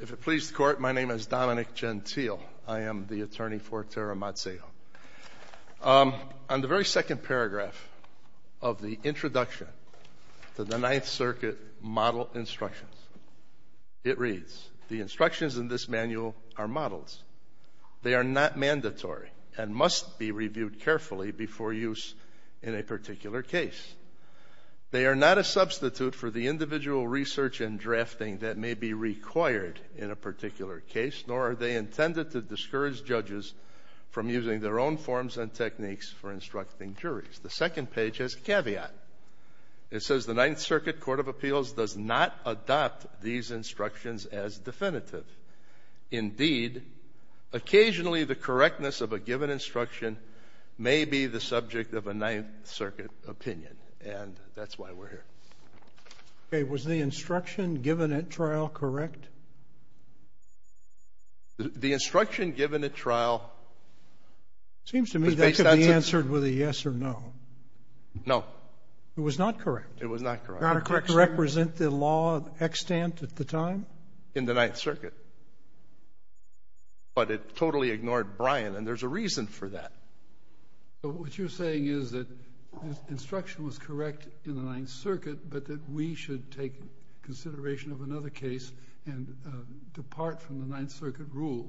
If it pleases the court, my name is Dominic Gentile. I am the attorney for Tara Mazzeo. On the very second paragraph of the introduction to the Ninth Circuit model instructions, it reads, the instructions in this manual are models. They are not mandatory and must be reviewed carefully before use in a particular case. They are not a substitute for the individual research and drafting that may be required in a particular case, nor are they intended to discourage judges from using their own forms and techniques for instructing juries. The second page has a caveat. It says the Ninth Circuit Court of Appeals does not adopt these instructions as definitive. Indeed, occasionally the correctness of a given instruction may be the subject of a Ninth Circuit opinion. And that's why we're here. Okay, was the instruction given at trial correct? The instruction given at trial was based on – It seems to me that could be answered with a yes or no. No. It was not correct. It was not correct. Did it represent the law of extant at the time? In the Ninth Circuit. But it totally ignored Bryan, and there's a reason for that. But what you're saying is that the instruction was correct in the Ninth Circuit, but that we should take consideration of another case and depart from the Ninth Circuit rule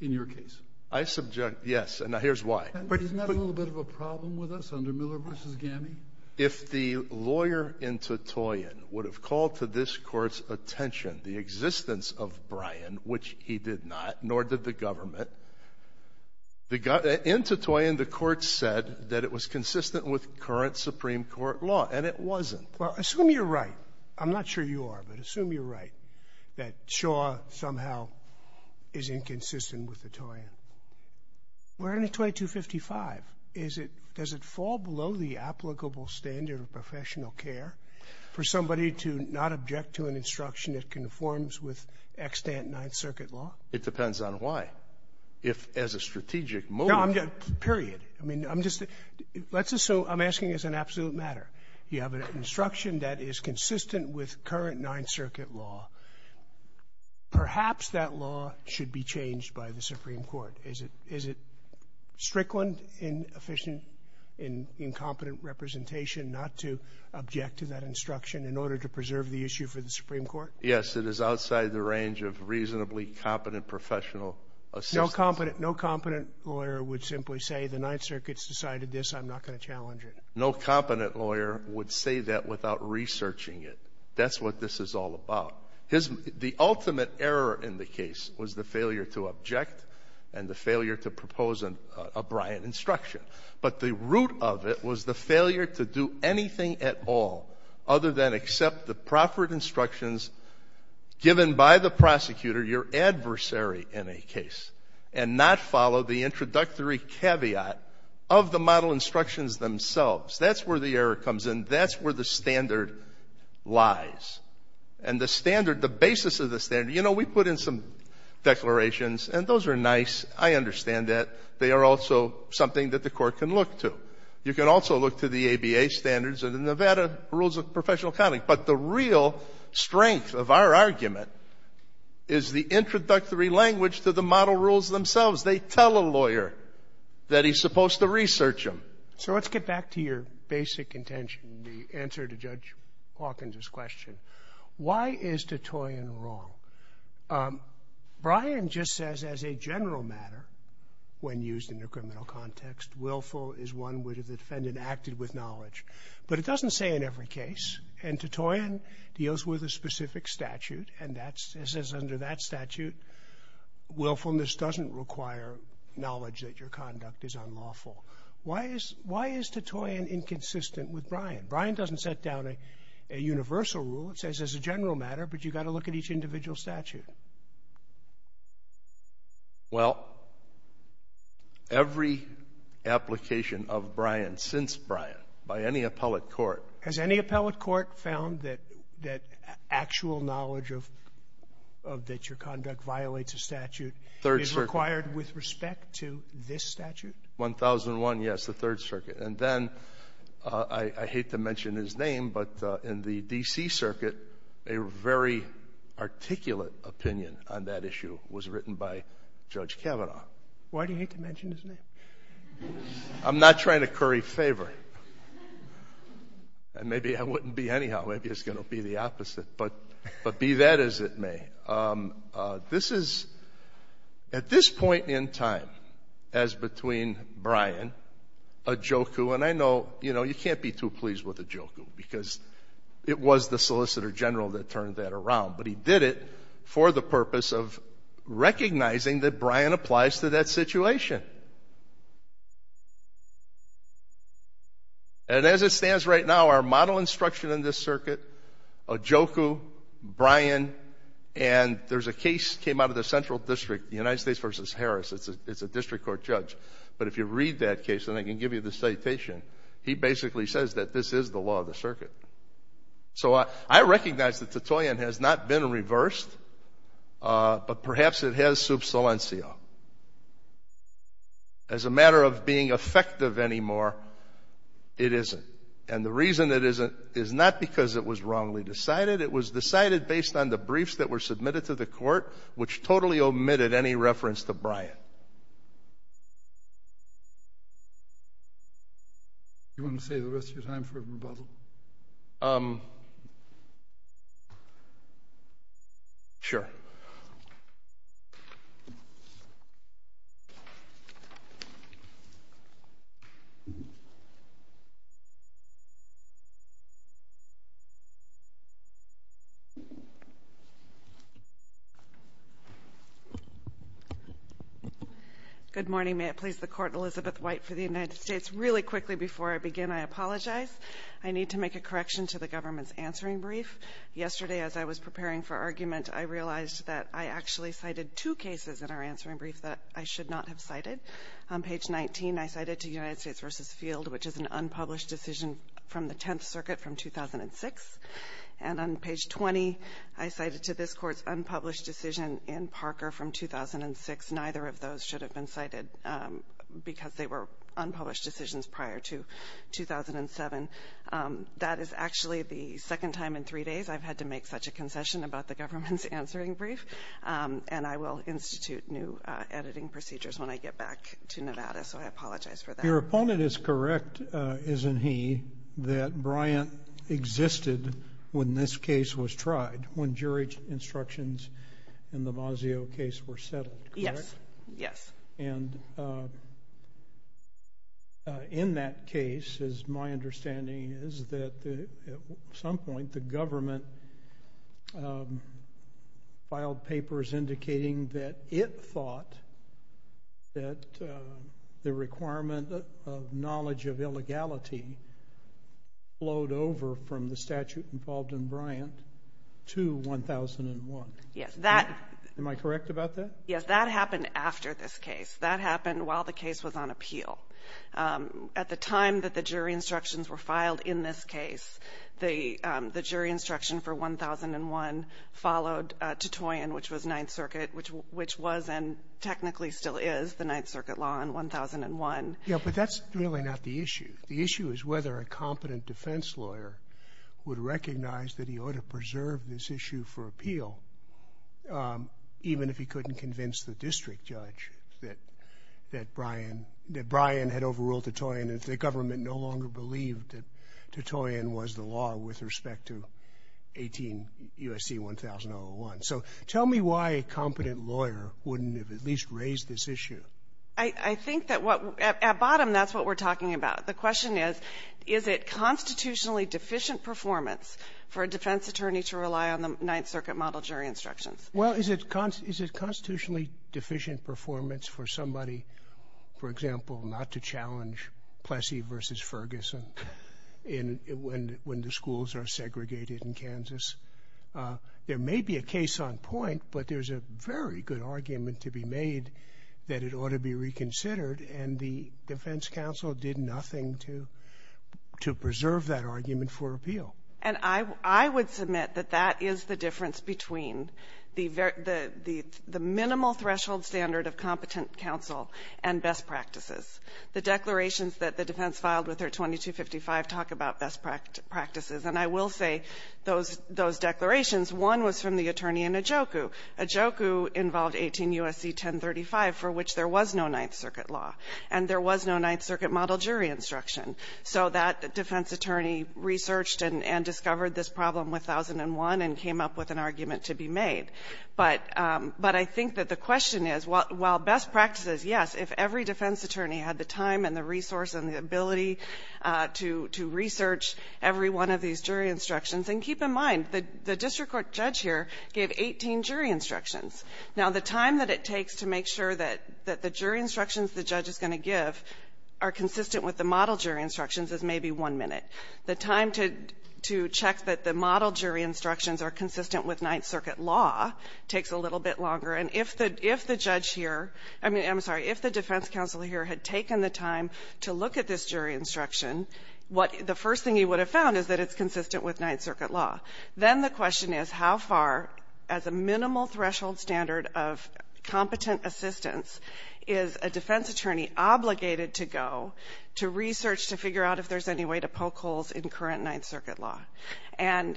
in your case. I subject – yes. And now here's why. Isn't that a little bit of a problem with us under Miller v. Gammey? If the lawyer in Titoyen would have called to this Court's attention the existence of Bryan, which he did not, nor did the government, in Titoyen the Court said that it was consistent with current Supreme Court law, and it wasn't. Well, assume you're right. I'm not sure you are, but assume you're right, that Shaw somehow is inconsistent with the Toyen. We're in a 2255. Is it – does it fall below the applicable standard of professional care for somebody to not object to an instruction that conforms with extant Ninth Circuit law? It depends on why. If, as a strategic motive – Period. I mean, I'm just – let's assume – I'm asking as an absolute matter. You have an instruction that is consistent with current Ninth Circuit law. Perhaps that law should be changed by the Supreme Court. Is it strickland, inefficient, incompetent representation not to object to that instruction in order to preserve the issue for the Supreme Court? Yes, it is outside the range of reasonably competent professional assistance. No competent lawyer would simply say the Ninth Circuit's decided this. I'm not going to challenge it. No competent lawyer would say that without researching it. That's what this is all about. The ultimate error in the case was the failure to object and the failure to propose a Bryant instruction. But the root of it was the failure to do anything at all other than accept the proffered instructions given by the prosecutor, your adversary in a case, and not follow the introductory caveat of the model instructions themselves. That's where the error comes in. That's where the standard lies. And the standard, the basis of the standard – you know, we put in some declarations, and those are nice. I understand that. They are also something that the Court can look to. You can also look to the ABA standards and the Nevada Rules of Professional Accounting. But the real strength of our argument is the introductory language to the model rules themselves. They tell a lawyer that he's supposed to research them. So let's get back to your basic intention, the answer to Judge Hawkins's question. Why is Titoian wrong? Bryant just says, as a general matter, when used in a criminal context, willful is one where the defendant acted with knowledge. But it doesn't say in every case. And Titoian deals with a specific statute, and it says under that statute, willfulness doesn't require knowledge that your conduct is unlawful. Why is Titoian inconsistent with Bryant? Bryant doesn't set down a universal rule. It says, as a general matter, but you've got to look at each individual statute. Well, every application of Bryant since Bryant by any appellate court — Has any appellate court found that actual knowledge of that your conduct violates a statute — Third Circuit. — is required with respect to this statute? 1001, yes, the Third Circuit. And then, I hate to mention his name, but in the D.C. Circuit, a very articulate opinion on that issue was written by Judge Kavanaugh. Why do you hate to mention his name? I'm not trying to curry favor. And maybe I wouldn't be anyhow. Maybe it's going to be the opposite. But be that as it may, this is — At this point in time, as between Bryant, Ojukwu, and I know, you know, you can't be too pleased with Ojukwu because it was the Solicitor General that turned that around, but he did it for the purpose of recognizing that Bryant applies to that situation. And as it stands right now, our model instruction in this circuit, Ojukwu, Bryant, and there's a case that came out of the Central District, the United States v. Harris. It's a district court judge. But if you read that case, and I can give you the citation, he basically says that this is the law of the circuit. So I recognize that Titoian has not been reversed, but perhaps it has sub silencio. As a matter of being effective anymore, it isn't. And the reason it isn't is not because it was wrongly decided. It was decided based on the briefs that were submitted to the court, which totally omitted any reference to Bryant. Do you want to save the rest of your time for a rebuttal? Good morning. May it please the Court, Elizabeth White for the United States. Really quickly before I begin, I apologize. I need to make a correction to the government's answering brief. Yesterday, as I was preparing for argument, I realized that I actually cited two cases in our answering brief that I should not have cited. On page 19, I cited to United States v. Field, which is an unpublished decision from the Tenth Circuit from 2006. And on page 20, I cited to this Court's unpublished decision in Parker from 2006. Neither of those should have been cited because they were unpublished decisions prior to 2007. That is actually the second time in three days I've had to make such a concession about the government's answering brief. And I will institute new editing procedures when I get back to Nevada, so I apologize for that. Your opponent is correct, isn't he, that Bryant existed when this case was tried, when jury instructions in the Mazzeo case were settled, correct? Yes, yes. And in that case, my understanding is that at some point, the government filed papers indicating that it thought that the requirement of knowledge of illegality flowed over from the statute involved in Bryant to 1001. Yes. Am I correct about that? Yes, that happened after this case. That happened while the case was on appeal. At the time that the jury instructions were filed in this case, the jury instruction for 1001 followed Titoian, which was Ninth Circuit, which was and technically still is the Ninth Circuit law in 1001. Yeah, but that's really not the issue. The issue is whether a competent defense lawyer would recognize that he ought to preserve this issue for appeal, even if he couldn't convince the district judge that Bryant had overruled Titoian if the government no longer believed that Titoian was the law with respect to USC 1001. So tell me why a competent lawyer wouldn't have at least raised this issue. I think that at bottom, that's what we're talking about. The question is, is it constitutionally deficient performance for a defense attorney to rely on the Ninth Circuit model jury instructions? Well, is it constitutionally deficient performance for somebody, for example, not to challenge Plessy v. Ferguson when the schools are segregated in Kansas? There may be a case on point, but there's a very good argument to be made that it ought to be reconsidered. And the defense counsel did nothing to preserve that argument for appeal. And I would submit that that is the difference between the minimal threshold standard of competent counsel and best practices. The declarations that the defense filed with their 2255 talk about best practices. And I will say those declarations, one was from the attorney in Ajoku. Ajoku involved 18 U.S.C. 1035, for which there was no Ninth Circuit law, and there was no Ninth Circuit model jury instruction. So that defense attorney researched and discovered this problem with 1001 and came up with an argument to be made. But I think that the question is, while best practices, yes, if every defense attorney had the time and the resource and the ability to research every one of these jury instructions, and keep in mind, the district court judge here gave 18 jury instructions. Now, the time that it takes to make sure that the jury instructions the judge is going to give are consistent with the model jury instructions is maybe one minute. The time to check that the model jury instructions are consistent with Ninth Circuit law takes a little bit longer. And if the judge here, I mean, I'm sorry, if the defense counsel here had taken the time to look at this jury instruction, what the first thing he would have found is that it's consistent with Ninth Circuit law. Then the question is how far, as a minimal threshold standard of competent assistance, is a defense attorney obligated to go to research to figure out if there's any way to poke holes in current Ninth Circuit law. And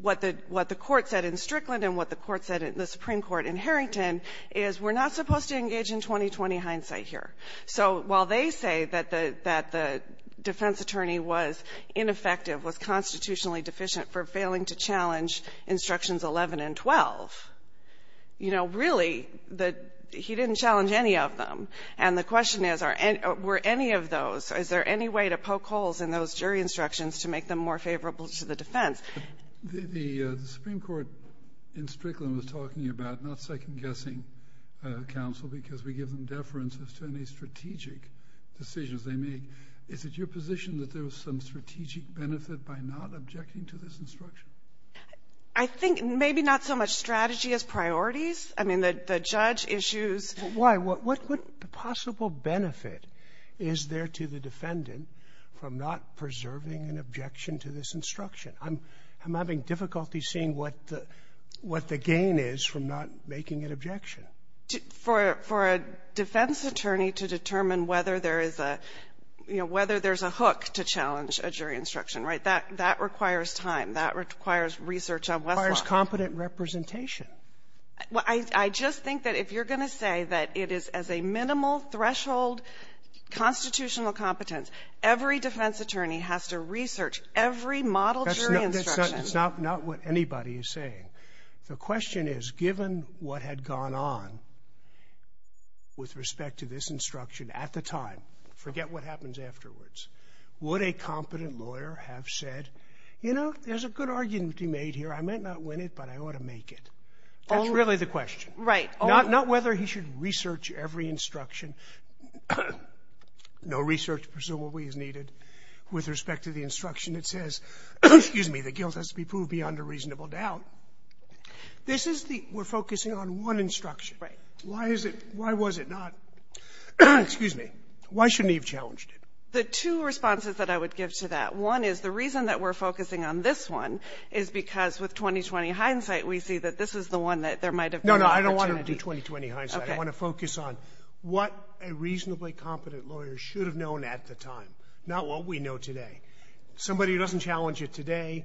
what the court said in Strickland and what the court said in the Supreme Court in Harrington is we're not supposed to engage in 20-20 hindsight here. So while they say that the defense attorney was ineffective, was constitutionally deficient for failing to challenge Instructions 11 and 12, you know, really, he didn't challenge any of them. And the question is, were any of those, is there any way to poke holes in those jury instructions that were applicable to the defense? The Supreme Court in Strickland was talking about not second-guessing counsel because we give them deference as to any strategic decisions they make. Is it your position that there was some strategic benefit by not objecting to this instruction? I think maybe not so much strategy as priorities. I mean, the judge issues why. What possible benefit is there to the defendant from not preserving an objection to this instruction? I'm having difficulty seeing what the gain is from not making an objection. For a defense attorney to determine whether there is a, you know, whether there's a hook to challenge a jury instruction, right, that requires time. That requires research on Westlaw. It requires competent representation. I just think that if you're going to say that it is as a minimal threshold constitutional competence, every defense attorney has to research every model jury instruction. That's not what anybody is saying. The question is, given what had gone on with respect to this instruction at the time, forget what happens afterwards, would a competent lawyer have said, you know, there's a good argument to be made here. I might not win it, but I ought to make it. That's really the question. Right. Not whether he should research every instruction. No research, presumably, is needed. With respect to the instruction, it says, excuse me, the guilt has to be proved beyond a reasonable doubt. This is the we're focusing on one instruction. Right. Why is it why was it not? Excuse me. Why shouldn't he have challenged it? The two responses that I would give to that, one is the reason that we're focusing on this one is because with 2020 hindsight, we see that this is the one that there might have been an opportunity. No, no. I don't want to do 2020 hindsight. I want to focus on what a reasonably competent lawyer should have known at the time, not what we know today. Somebody who doesn't challenge it today,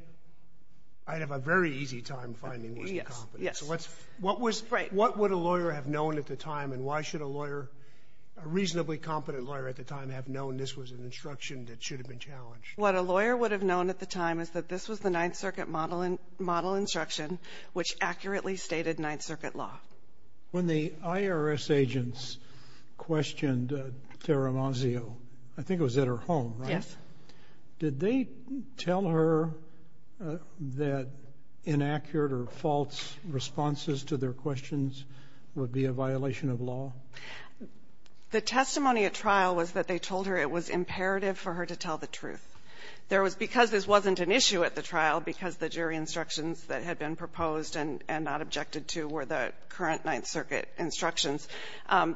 I'd have a very easy time finding wasn't competent. Yes, yes. What would a lawyer have known at the time, and why should a lawyer, a reasonably competent lawyer at the time, have known this was an instruction that should have been challenged? What a lawyer would have known at the time is that this was the Ninth Circuit model instruction, which accurately stated Ninth Circuit law. When the IRS agents questioned Tara Mazzio, I think it was at her home, right? Yes. Did they tell her that inaccurate or false responses to their questions would be a violation of law? The testimony at trial was that they told her it was imperative for her to tell the truth. There was — because this wasn't an issue at the trial, because the jury instructions that had been proposed and not objected to were the current Ninth Circuit instructions,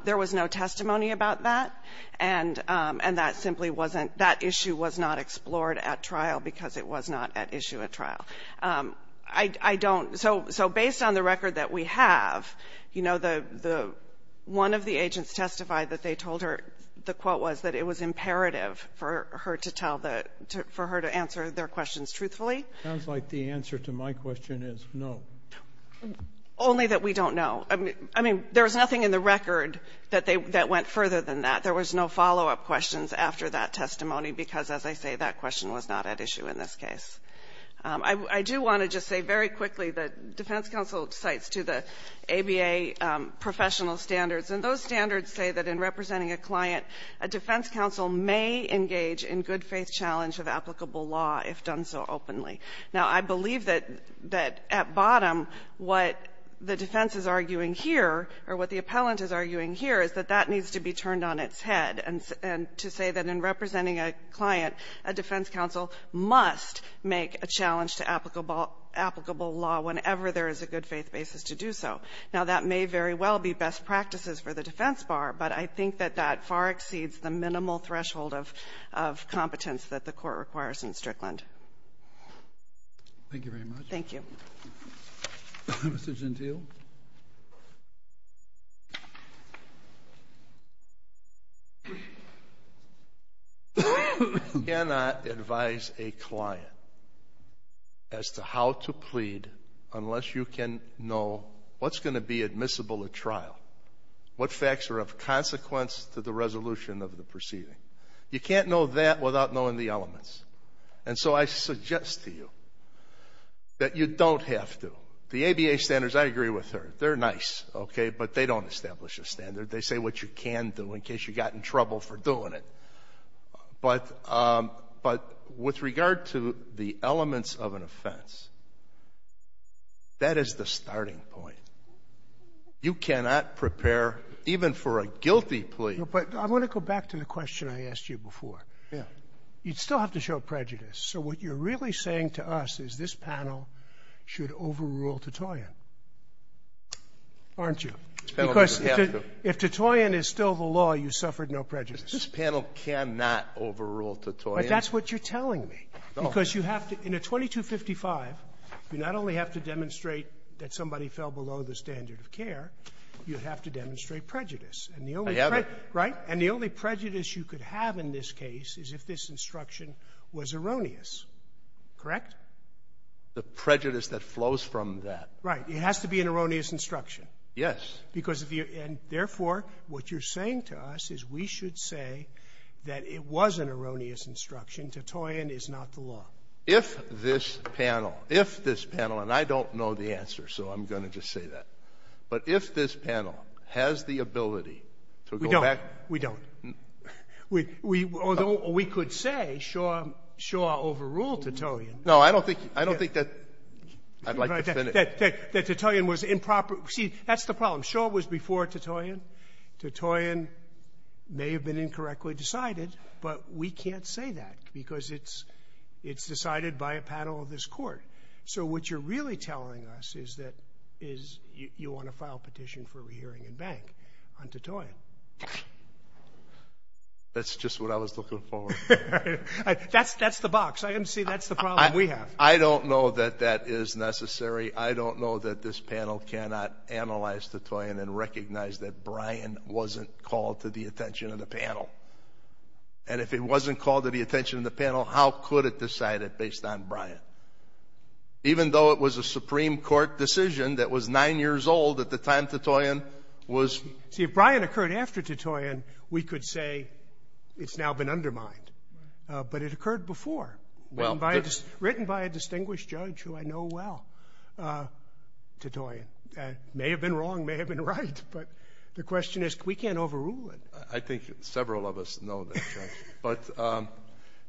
there was no testimony about that. And that simply wasn't — that issue was not explored at trial because it was not at issue at trial. I don't — so based on the record that we have, you know, the — one of the agents testified that they told her the quote was that it was imperative for her to tell the — for her to answer their questions truthfully. It sounds like the answer to my question is no. Only that we don't know. I mean, there was nothing in the record that they — that went further than that. There was no follow-up questions after that testimony because, as I say, that question was not at issue in this case. I do want to just say very quickly that defense counsel cites to the ABA professional standards, and those standards say that in representing a client, a defense counsel may engage in good-faith challenge of applicable law if done so openly. Now, I believe that — that at bottom, what the defense is arguing here, or what the appellant is arguing here, is that that needs to be turned on its head and — and to say that in representing a client, a defense counsel must make a challenge to applicable law whenever there is a good-faith basis to do so. Now, that may very well be best practices for the defense bar, but I think that that far exceeds the minimal threshold of — of competence that the Court requires in Strickland. Thank you very much. Thank you. Mr. Gentile? I cannot advise a client as to how to plead unless you can know what's going to be admissible at trial, what facts are of consequence to the resolution of the proceeding. You can't know that without knowing the elements. And so I suggest to you that you don't have to. The ABA standards, I agree with her. They're nice, okay? But they don't establish a standard. They say what you can do in case you got in trouble for doing it. But — but with regard to the elements of an offense, that is the starting point. You cannot prepare even for a guilty plea. But I want to go back to the question I asked you before. Yeah. You'd still have to show prejudice. So what you're really saying to us is this panel should overrule Tutoyen, aren't you? Because if Tutoyen is still the law, you suffered no prejudice. This panel cannot overrule Tutoyen. But that's what you're telling me. No. Because you have to — in a 2255, you not only have to demonstrate that somebody fell below the standard of care, you have to demonstrate prejudice. And the only — I have it. Right? Right. And the only prejudice you could have in this case is if this instruction was erroneous. Correct? The prejudice that flows from that. Right. It has to be an erroneous instruction. Yes. Because if you — and therefore, what you're saying to us is we should say that it was an erroneous instruction. Tutoyen is not the law. If this panel — if this panel — and I don't know the answer, so I'm going to just say that. But if this panel has the ability to go back — We don't. Although we could say Shaw overruled Tutoyen. No, I don't think — I don't think that — I'd like to finish. That Tutoyen was improper — see, that's the problem. Shaw was before Tutoyen. Tutoyen may have been incorrectly decided, but we can't say that because it's decided by a panel of this Court. So what you're really telling us is that — is you want to file a petition for That's just what I was looking for. That's the box. I didn't see that's the problem we have. I don't know that that is necessary. I don't know that this panel cannot analyze Tutoyen and recognize that Bryan wasn't called to the attention of the panel. And if it wasn't called to the attention of the panel, how could it decide it based on Bryan? Even though it was a Supreme Court decision that was nine years old at the time Tutoyen was — See, if Bryan occurred after Tutoyen, we could say it's now been undermined. But it occurred before, written by a distinguished judge who I know well, Tutoyen. It may have been wrong, may have been right, but the question is we can't overrule it. I think several of us know that, Judge. But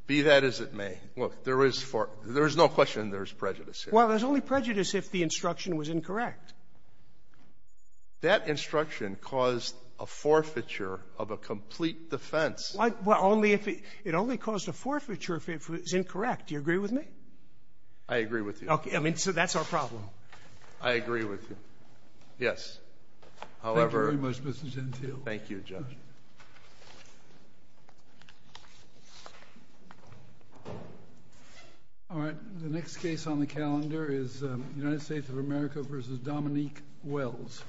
be that as it may, look, there is — there is no question there is prejudice here. Well, there's only prejudice if the instruction was incorrect. That instruction caused a forfeiture of a complete defense. Well, only if — it only caused a forfeiture if it was incorrect. Do you agree with me? I agree with you. Okay. I mean, so that's our problem. I agree with you. Yes. However — Thank you very much, Mr. Gentile. Thank you, Judge. All right. The next case on the calendar is United States of America v. Dominique Wells.